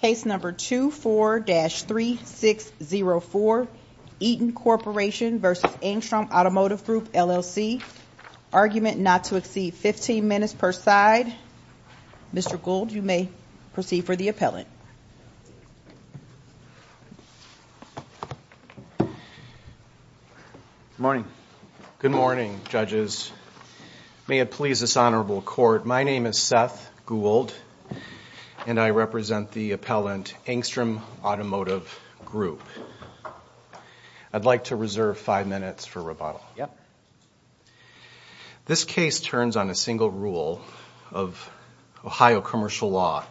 Case number 24-3604 Eaton Corporation v. Angstrom Automotive Group LLC Argument not to exceed 15 minutes per side. Mr. Gould, you may proceed for the appellant. Good morning. Good morning, judges. May it please this honorable court, my name is Seth Gould and I represent the appellant Angstrom Automotive Group. I'd like to reserve five minutes for rebuttal. This case turns on a single rule of Ohio commercial law.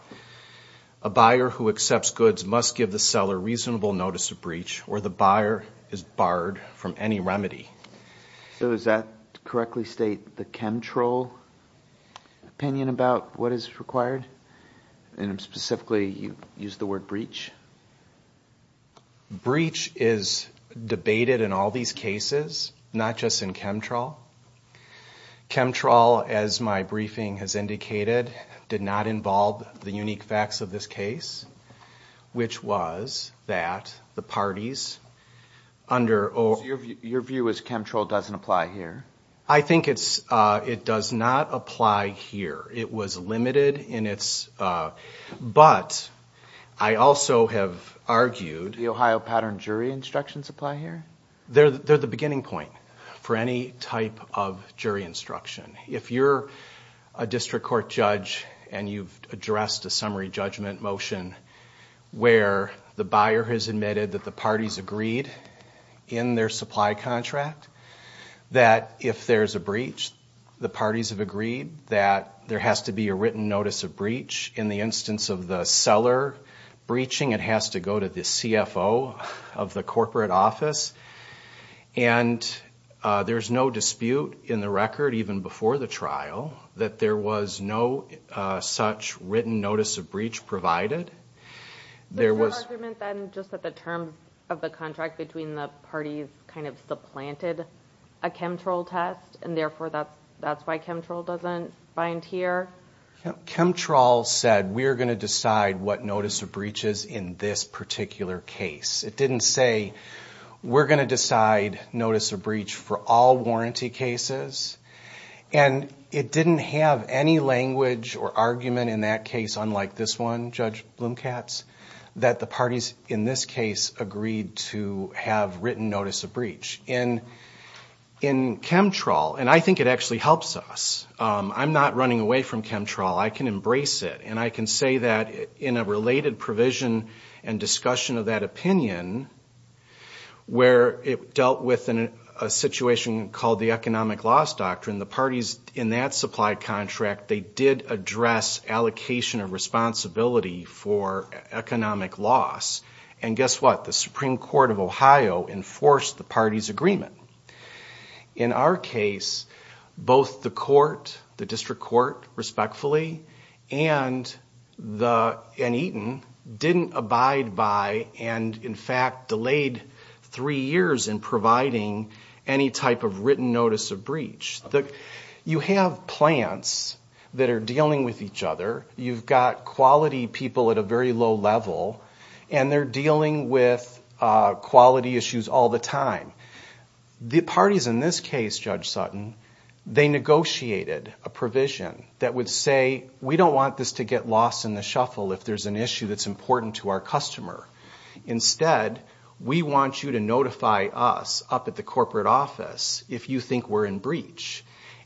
A buyer who accepts goods must give the seller reasonable notice of breach or the buyer is barred from any remedy. So does that correctly state the Chemtrol opinion about what is required? And specifically you used the word breach? Breach is debated in all these cases, not just in Chemtrol. Chemtrol, as my briefing has indicated, did not involve the unique facts of this case, which was that the parties under... Your view is Chemtrol doesn't apply here? I think it does not apply here. It was limited in its... But I also have argued... The Ohio pattern jury instructions apply here? They're the beginning point for any type of jury instruction. If you're a district court judge and you've addressed a summary judgment motion where the buyer has admitted that the parties agreed in their supply contract that if there's a breach, the parties have agreed that there has to be a written notice of breach. In the instance of the seller breaching, it has to go to the CFO of the corporate office. And there's no dispute in the record, even before the trial, that there was no such written notice of breach provided. There was no argument then just that the term of the contract between the parties kind of supplanted a Chemtrol test, and therefore that's why Chemtrol doesn't bind here? Chemtrol said, we're going to decide what notice of breach is in this particular case. It didn't say, we're going to decide notice of breach for all warranty cases. And it didn't have any language or argument in that case, unlike this one, Judge Blumkatz, that the parties in this case agreed to have written notice of breach. In Chemtrol, and I think it actually helps us. I'm not running away from Chemtrol. I can embrace it. And I can say that in a related provision and discussion of that opinion, where it dealt with a situation called the economic loss doctrine, the parties in that supply contract, they did address allocation of responsibility for economic loss. And guess what? The Supreme Court of Ohio enforced the party's agreement. In our case, both the court, the district court, respectfully, and Eaton didn't abide by, and in fact, delayed three years in providing any type of written notice of breach. You have plants that are dealing with each other. You've got quality people at a very low level, and they're dealing with quality issues all the time. The parties in this case, Judge Sutton, they negotiated a provision that would say, we don't want this to get lost in the shuffle if there's an issue that's important to our customer. Instead, we want you to notify us up at the corporate office if you think we're in breach.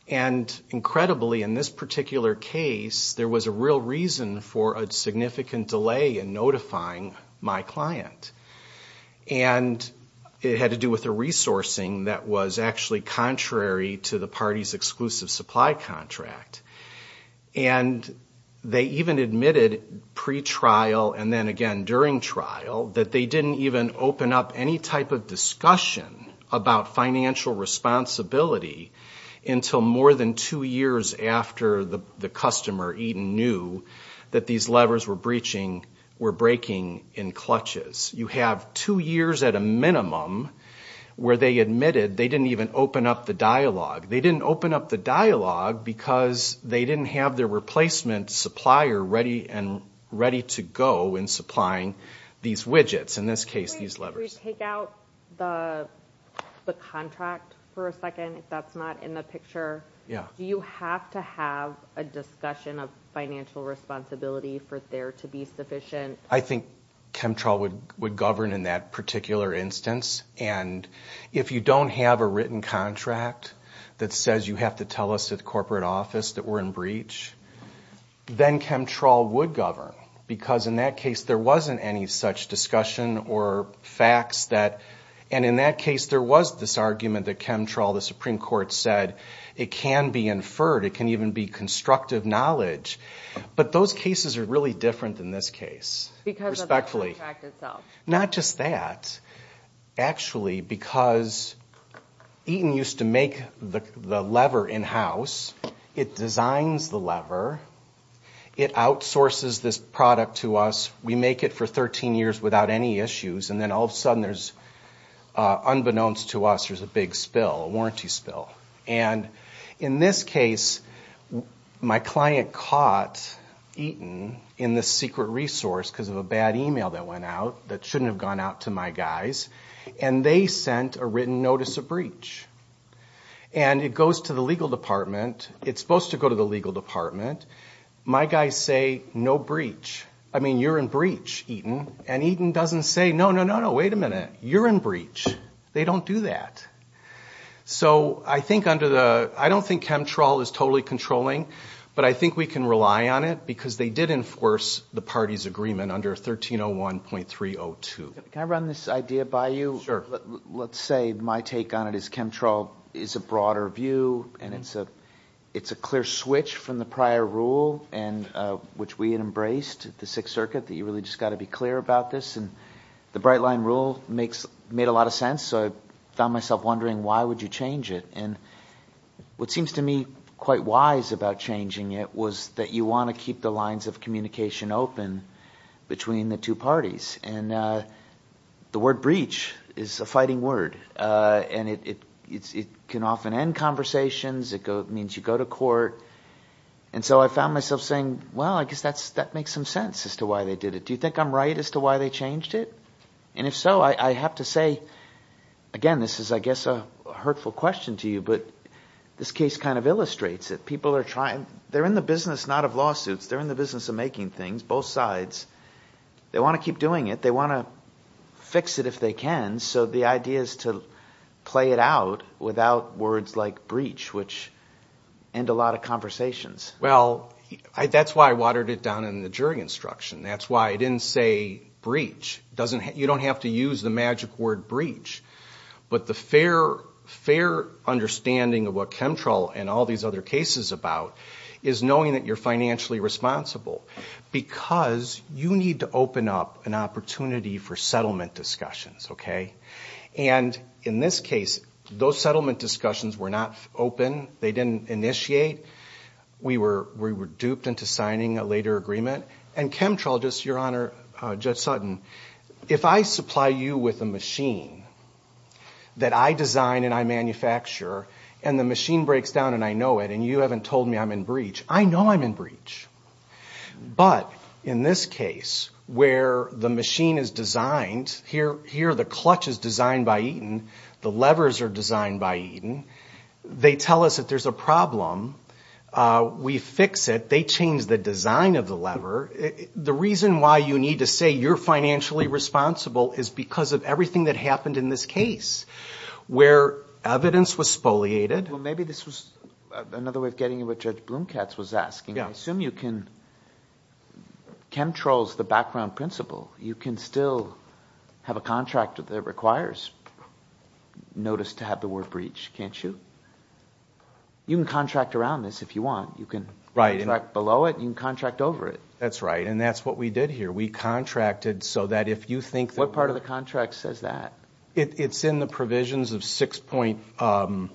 And incredibly, in this particular case, there was a real reason for a significant delay in notifying my client. And it had to do with the resourcing that was actually contrary to the party's exclusive supply contract. And they even admitted pre-trial and then again during trial that they didn't even open up any type of discussion about financial responsibility until more than two years after the customer, Eaton, knew that these levers were breaching, were breaking in clutches. You have two years at a minimum where they admitted they didn't even open up the dialogue. They didn't open up the dialogue because they didn't have their replacement supplier ready and ready to go in supplying these widgets, in this case, these levers. Wait, can we take out the contract for a second if that's not in the picture? Yeah. Do you have to have a discussion of financial responsibility for there to be sufficient? I think Chemtrail would govern in that particular instance. And if you don't have a written contract that says you have to tell us at the corporate office that we're in breach, then Chemtrail would govern. Because in that case, there wasn't any such discussion or facts that, and in that case, there was this argument that Chemtrail, the Supreme Court said, it can be inferred. It can even be constructive knowledge. But those cases are really different than this case. Because of the contract itself. Not just that. Actually, because Eaton used to make the lever in-house. It designs the lever. It outsources this product to us. We make it for 13 years without any issues. And then all of a sudden, unbeknownst to us, there's a big spill, a warranty spill. And in this case, my client caught Eaton in this secret resource because of a bad email that went out that shouldn't have gone out to my guys. And they sent a written notice of breach. And it goes to the legal department. It's supposed to go to the legal department. My guys say, no breach. I mean, you're in breach, Eaton. And Eaton doesn't say, no, no, no, no, wait a minute. You're in breach. They don't do that. So I don't think Chemtrol is totally controlling. But I think we can rely on it. Because they did enforce the party's agreement under 1301.302. Can I run this idea by you? Let's say my take on it is Chemtrol is a broader view. And it's a clear switch from the prior rule which we had embraced, the Sixth Circuit, that you really just got to be clear about this. And the Bright Line rule made a lot of sense. So I found myself wondering, why would you change it? And what seems to me quite wise about changing it was that you want to keep the lines of communication open between the two parties. And the word breach is a fighting word. And it can often end conversations. It means you go to court. And so I found myself saying, well, I guess that makes some sense as to why they did it. Do you think I'm right as to why they changed it? And if so, I have to say, again, this is, I guess, a hurtful question to you. But this case kind of illustrates it. People are trying. They're in the business not of lawsuits. They're in the business of making things, both sides. They want to keep doing it. They want to fix it if they can. So the idea is to play it out without words like breach, which end a lot of conversations. Well, that's why I watered it down in the jury instruction. That's why I didn't say breach. You don't have to use the magic word breach. But the fair understanding of what Chemtrol and all these other cases about is knowing that you're financially responsible. Because you need to open up an opportunity for settlement discussions, okay? And in this case, those settlement discussions were not open. They didn't initiate. We were duped into signing a later agreement. And Chemtrol, just your honor, Judge Sutton, if I supply you with a machine that I design and I manufacture, and the machine breaks down and I know it, and you haven't told me I'm in breach, I know I'm in breach. But in this case, where the machine is designed, here the clutch is designed by Eaton, the levers are designed by Eaton. They tell us that there's a problem. We fix it. They change the design of the lever. The reason why you need to say you're financially responsible is because of everything that happened in this case, where evidence was spoliated. Well, maybe this was another way of getting at what Judge Blomkatz was asking. I assume you can... Chemtrol's the background principle. You can still have a contract that requires notice to have the word breach, can't you? You can contract around this if you want. You can contract below it. You can contract over it. That's right. And that's what we did here. We contracted so that if you think that... What part of the contract says that? It's in the provisions of six point...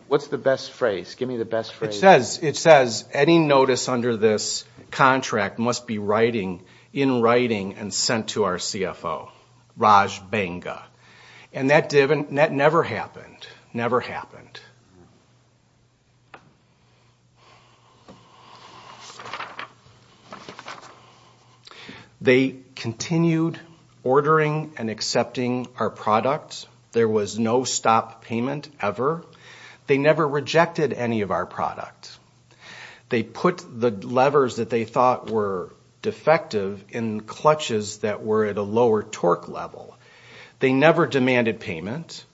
What's the best phrase? Give me the best phrase. It says, any notice under this contract must be in writing and sent to our CFO. Raj Banga. And that never happened. Never happened. They continued ordering and accepting our products. There was no stop payment ever. They never rejected any of our products. They put the levers that they thought were defective in clutches that were at a lower torque level. They never demanded payment.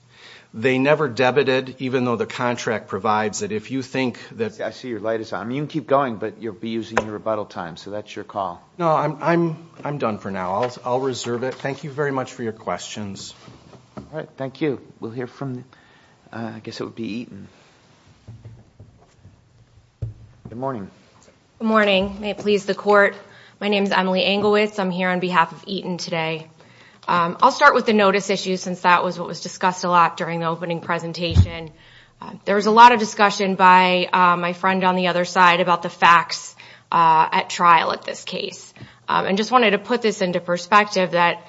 They never debited, even though the contract provides that if you think that... I see your light is on. You can keep going, but you'll be using your rebuttal time, so that's your call. No, I'm done for now. I'll reserve it. Thank you very much for your questions. All right. Thank you. We'll hear from... I guess it would be Eaton. Good morning. Good morning. May it please the court. My name is Emily Anglewitz. I'm here on behalf of Eaton today. I'll start with the notice issue since that was what was discussed a lot during the opening presentation. There was a lot of discussion by my friend on the other side about the facts at trial at this case. And just wanted to put this into perspective that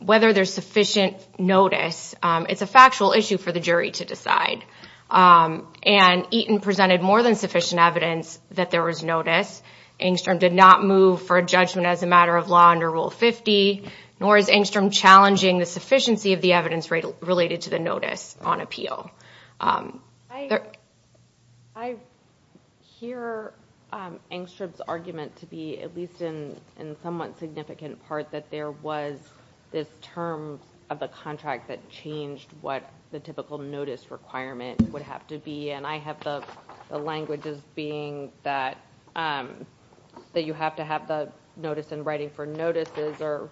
whether there's sufficient notice, it's a factual issue for the jury to decide. And Eaton presented more than sufficient evidence that there was notice. Engstrom did not move for a judgment as a matter of law under Rule 50, nor is Engstrom challenging the sufficiency of the evidence related to the notice on appeal. I hear Engstrom's argument to be at least in somewhat significant part that there was this term of the contract that changed what the typical notice requirement would have to be. And I have the language as being that you have to have the notice in writing for notices or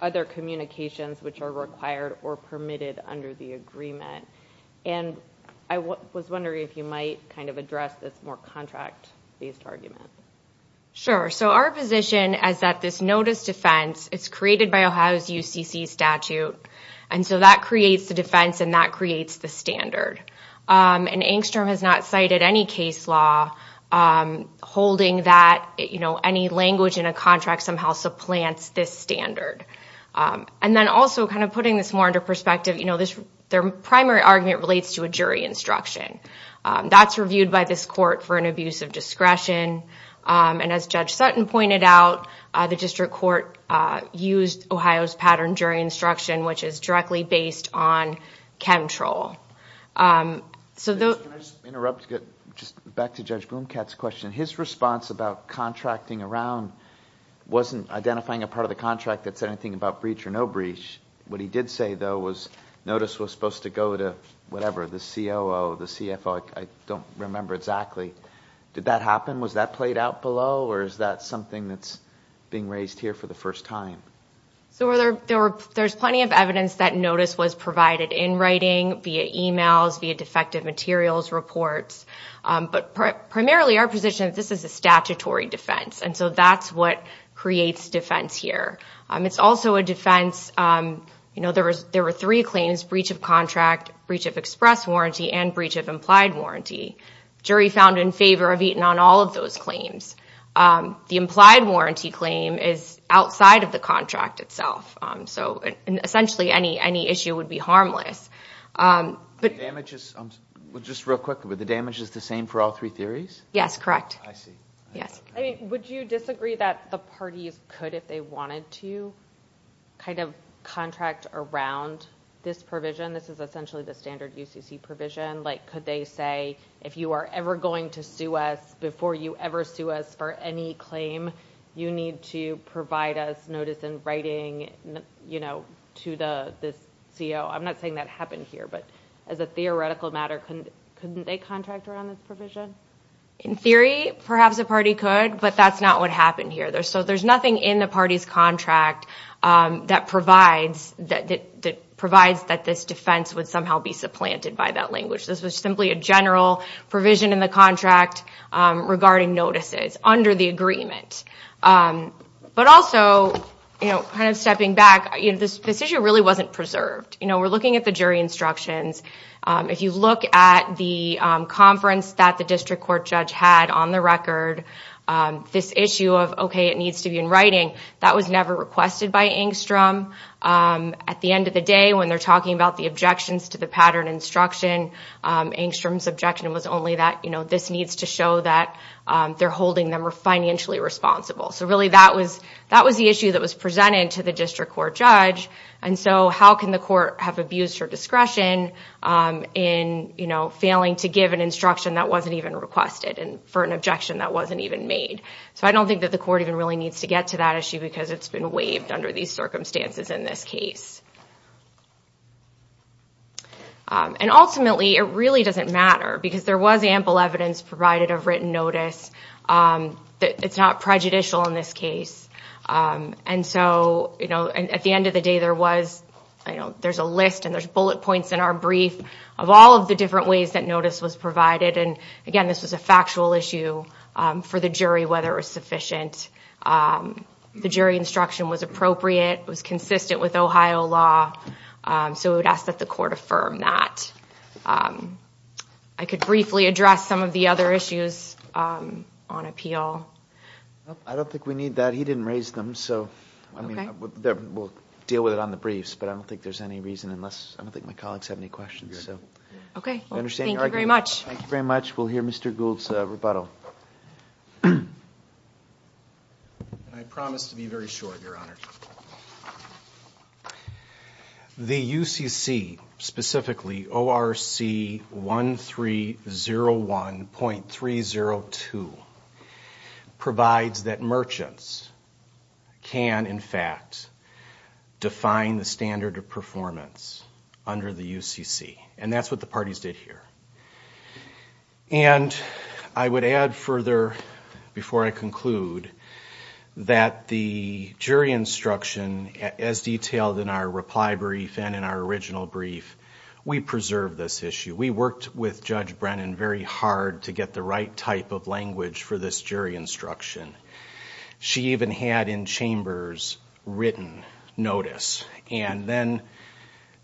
other communications which are required or permitted under the agreement. And I was wondering if you might address this more contract-based argument. Sure. So our position is that this notice defense is created by Ohio's UCC statute. And so that creates the defense and that creates the standard. And Engstrom has not cited any case law holding that any language in a contract somehow supplants this standard. And then also kind of putting this more into perspective, you know, their primary argument relates to a jury instruction. That's reviewed by this court for an abuse of discretion. And as Judge Sutton pointed out, the district court used Ohio's pattern jury instruction, which is directly based on chemtrol. Can I just interrupt to get just back to anything about breach or no breach. What he did say, though, was notice was supposed to go to whatever, the COO, the CFO, I don't remember exactly. Did that happen? Was that played out below or is that something that's being raised here for the first time? So there's plenty of evidence that notice was provided in writing via emails, via defective materials reports. But primarily our position is this is a statutory defense. And so that's what creates defense here. It's also a defense, you know, there were three claims, breach of contract, breach of express warranty, and breach of implied warranty. Jury found in favor of eating on all of those claims. The implied warranty claim is outside of the contract itself. So essentially any issue would be harmless. But damages, just real quick, but the damage is the same for all three theories? Yes, correct. I see. Yes. I mean, would you disagree that the parties could, if they wanted to, kind of contract around this provision? This is essentially the standard UCC provision. Like, could they say, if you are ever going to sue us before you ever sue us for any claim, you need to provide us notice in writing, you know, to the this COO? I'm not saying that happened here, but as a theoretical matter, couldn't they contract around this provision? In theory, perhaps a party could, but that's not what happened here. So there's nothing in the party's contract that provides that this defense would somehow be supplanted by that language. This was simply a general provision in the contract regarding notices under the agreement. But also, you know, kind of stepping back, this issue really wasn't preserved. You know, we're looking at the jury instructions. If you look at the conference that the district court judge had on the record, this issue of, okay, it needs to be in writing, that was never requested by Engstrom. At the end of the day, when they're talking about the objections to the pattern instruction, Engstrom's objection was only that, you know, this needs to show that they're holding them financially responsible. So really, that was the issue that was presented to the district court judge. And so how can the court have abused her discretion in, you know, failing to give an instruction that wasn't even requested and for an objection that wasn't even made? So I don't think that the court even really needs to get to that issue because it's been waived under these circumstances in this case. And ultimately, it really doesn't matter because there was ample evidence provided of written notice. It's not prejudicial in this case. And so, you know, at the end of the day, there was, you know, there's a list and there's bullet points in our brief of all of the different ways that notice was provided. And again, this was a factual issue for the jury, whether it was sufficient. The jury instruction was appropriate, was consistent with Ohio law. So we would ask that the court affirm that. I could briefly address some of the other issues on appeal. I don't think we need that. He didn't raise them. So I mean, we'll deal with it on the briefs, but I don't think there's any reason unless I don't think my colleagues have any questions. Okay. Thank you very much. Thank you very much. We'll hear Mr. Gould's rebuttal. I promise to be very short, Your Honor. The UCC, specifically ORC 1301.302, provides that merchants can, in fact, define the standard of performance under the UCC. And that's what the parties did here. And I would add further before I conclude that the jury instruction, as detailed in our reply brief and in our original brief, we preserve this issue. We worked with Judge Brennan very hard to get the right type of language for this jury instruction. She even had in chambers written notice and then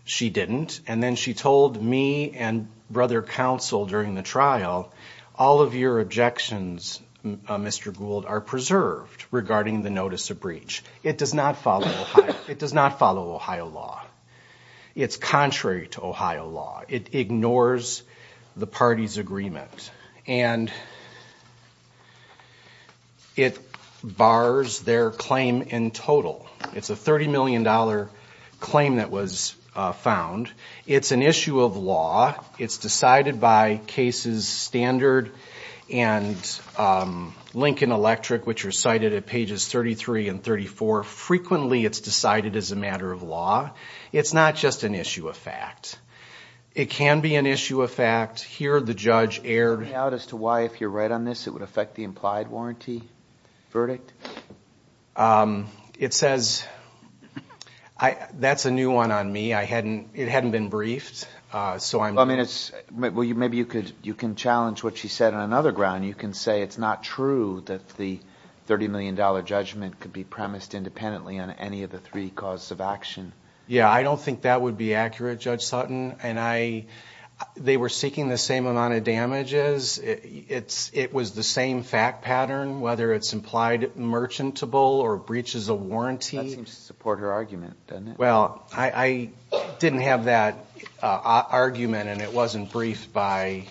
she didn't. And then she told me and brother counsel during the trial, all of your objections, Mr. Gould, are preserved regarding the notice of breach. It does not follow Ohio law. It's contrary to Ohio law. It ignores the party's agreement and it bars their claim in total. It's a $30 million claim that was found. It's an issue of law. It's decided by cases standard and Lincoln Electric, which are cited at pages 33 and 34. Frequently, it's decided as a matter of law. It's not just an issue of fact. It can be an issue of fact. Here, the judge erred. Do you have any doubt as to why, if you're right on this, it would affect the implied warranty verdict? It says, that's a new one on me. It hadn't been briefed. Maybe you can challenge what she said on another ground. You can say it's not true that the $30 million judgment could be premised independently on any of the three causes of action. I don't think that would be accurate, Judge Sutton. They were seeking the same amount of damages. It was the same fact pattern, whether it's implied merchantable or breaches a warranty. That seems to support her argument, doesn't it? Well, I didn't have that argument and it wasn't briefed by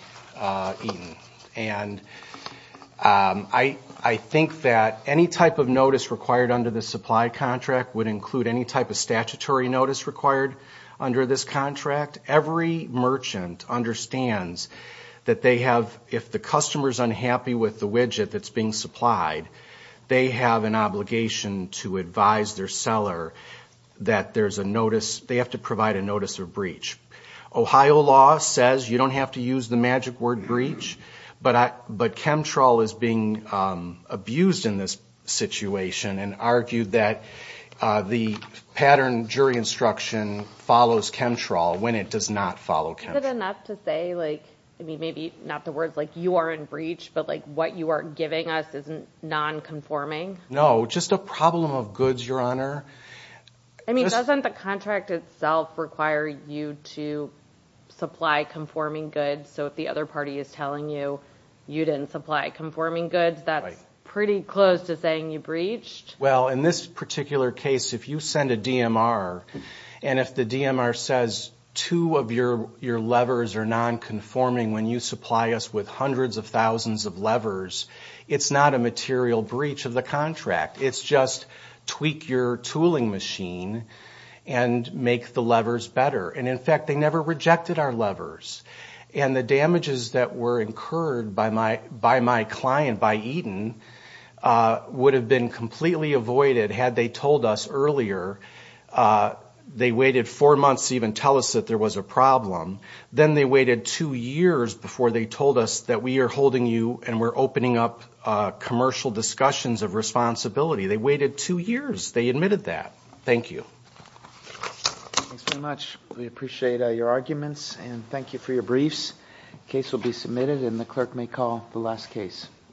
Eaton. I think that any type of notice required under the supply contract would include any type of statutory notice required under this contract. Every merchant understands that if the customer's unhappy with the widget that's being supplied, they have an obligation to advise their seller that they have to provide a notice of breach. Ohio law says you don't have to use the magic word breach, but Chemtrol is being abused in this situation and argued that the pattern jury instruction follows Chemtrol when it does not follow Chemtrol. Is it enough to say, maybe not the words like you are in breach, but what you are giving us is non-conforming? No, just a problem of goods, Your Honor. Doesn't the contract itself require you to supply conforming goods? So if the other party is telling you, you didn't supply conforming goods, that's pretty close to saying you breached? Well, in this particular case, if you send a DMR and if the DMR says two of your levers are non-conforming when you supply us with hundreds of thousands of levers, it's not a material breach of the contract. It's just tweak your tooling machine and make the levers better. In fact, they never heard by my client, by Eden, would have been completely avoided had they told us earlier. They waited four months to even tell us that there was a problem. Then they waited two years before they told us that we are holding you and we're opening up commercial discussions of responsibility. They waited two years. They admitted that. Thank you. Thanks very much. We appreciate your arguments and thank you for your briefs. Case will be submitted and the clerk may call the last case.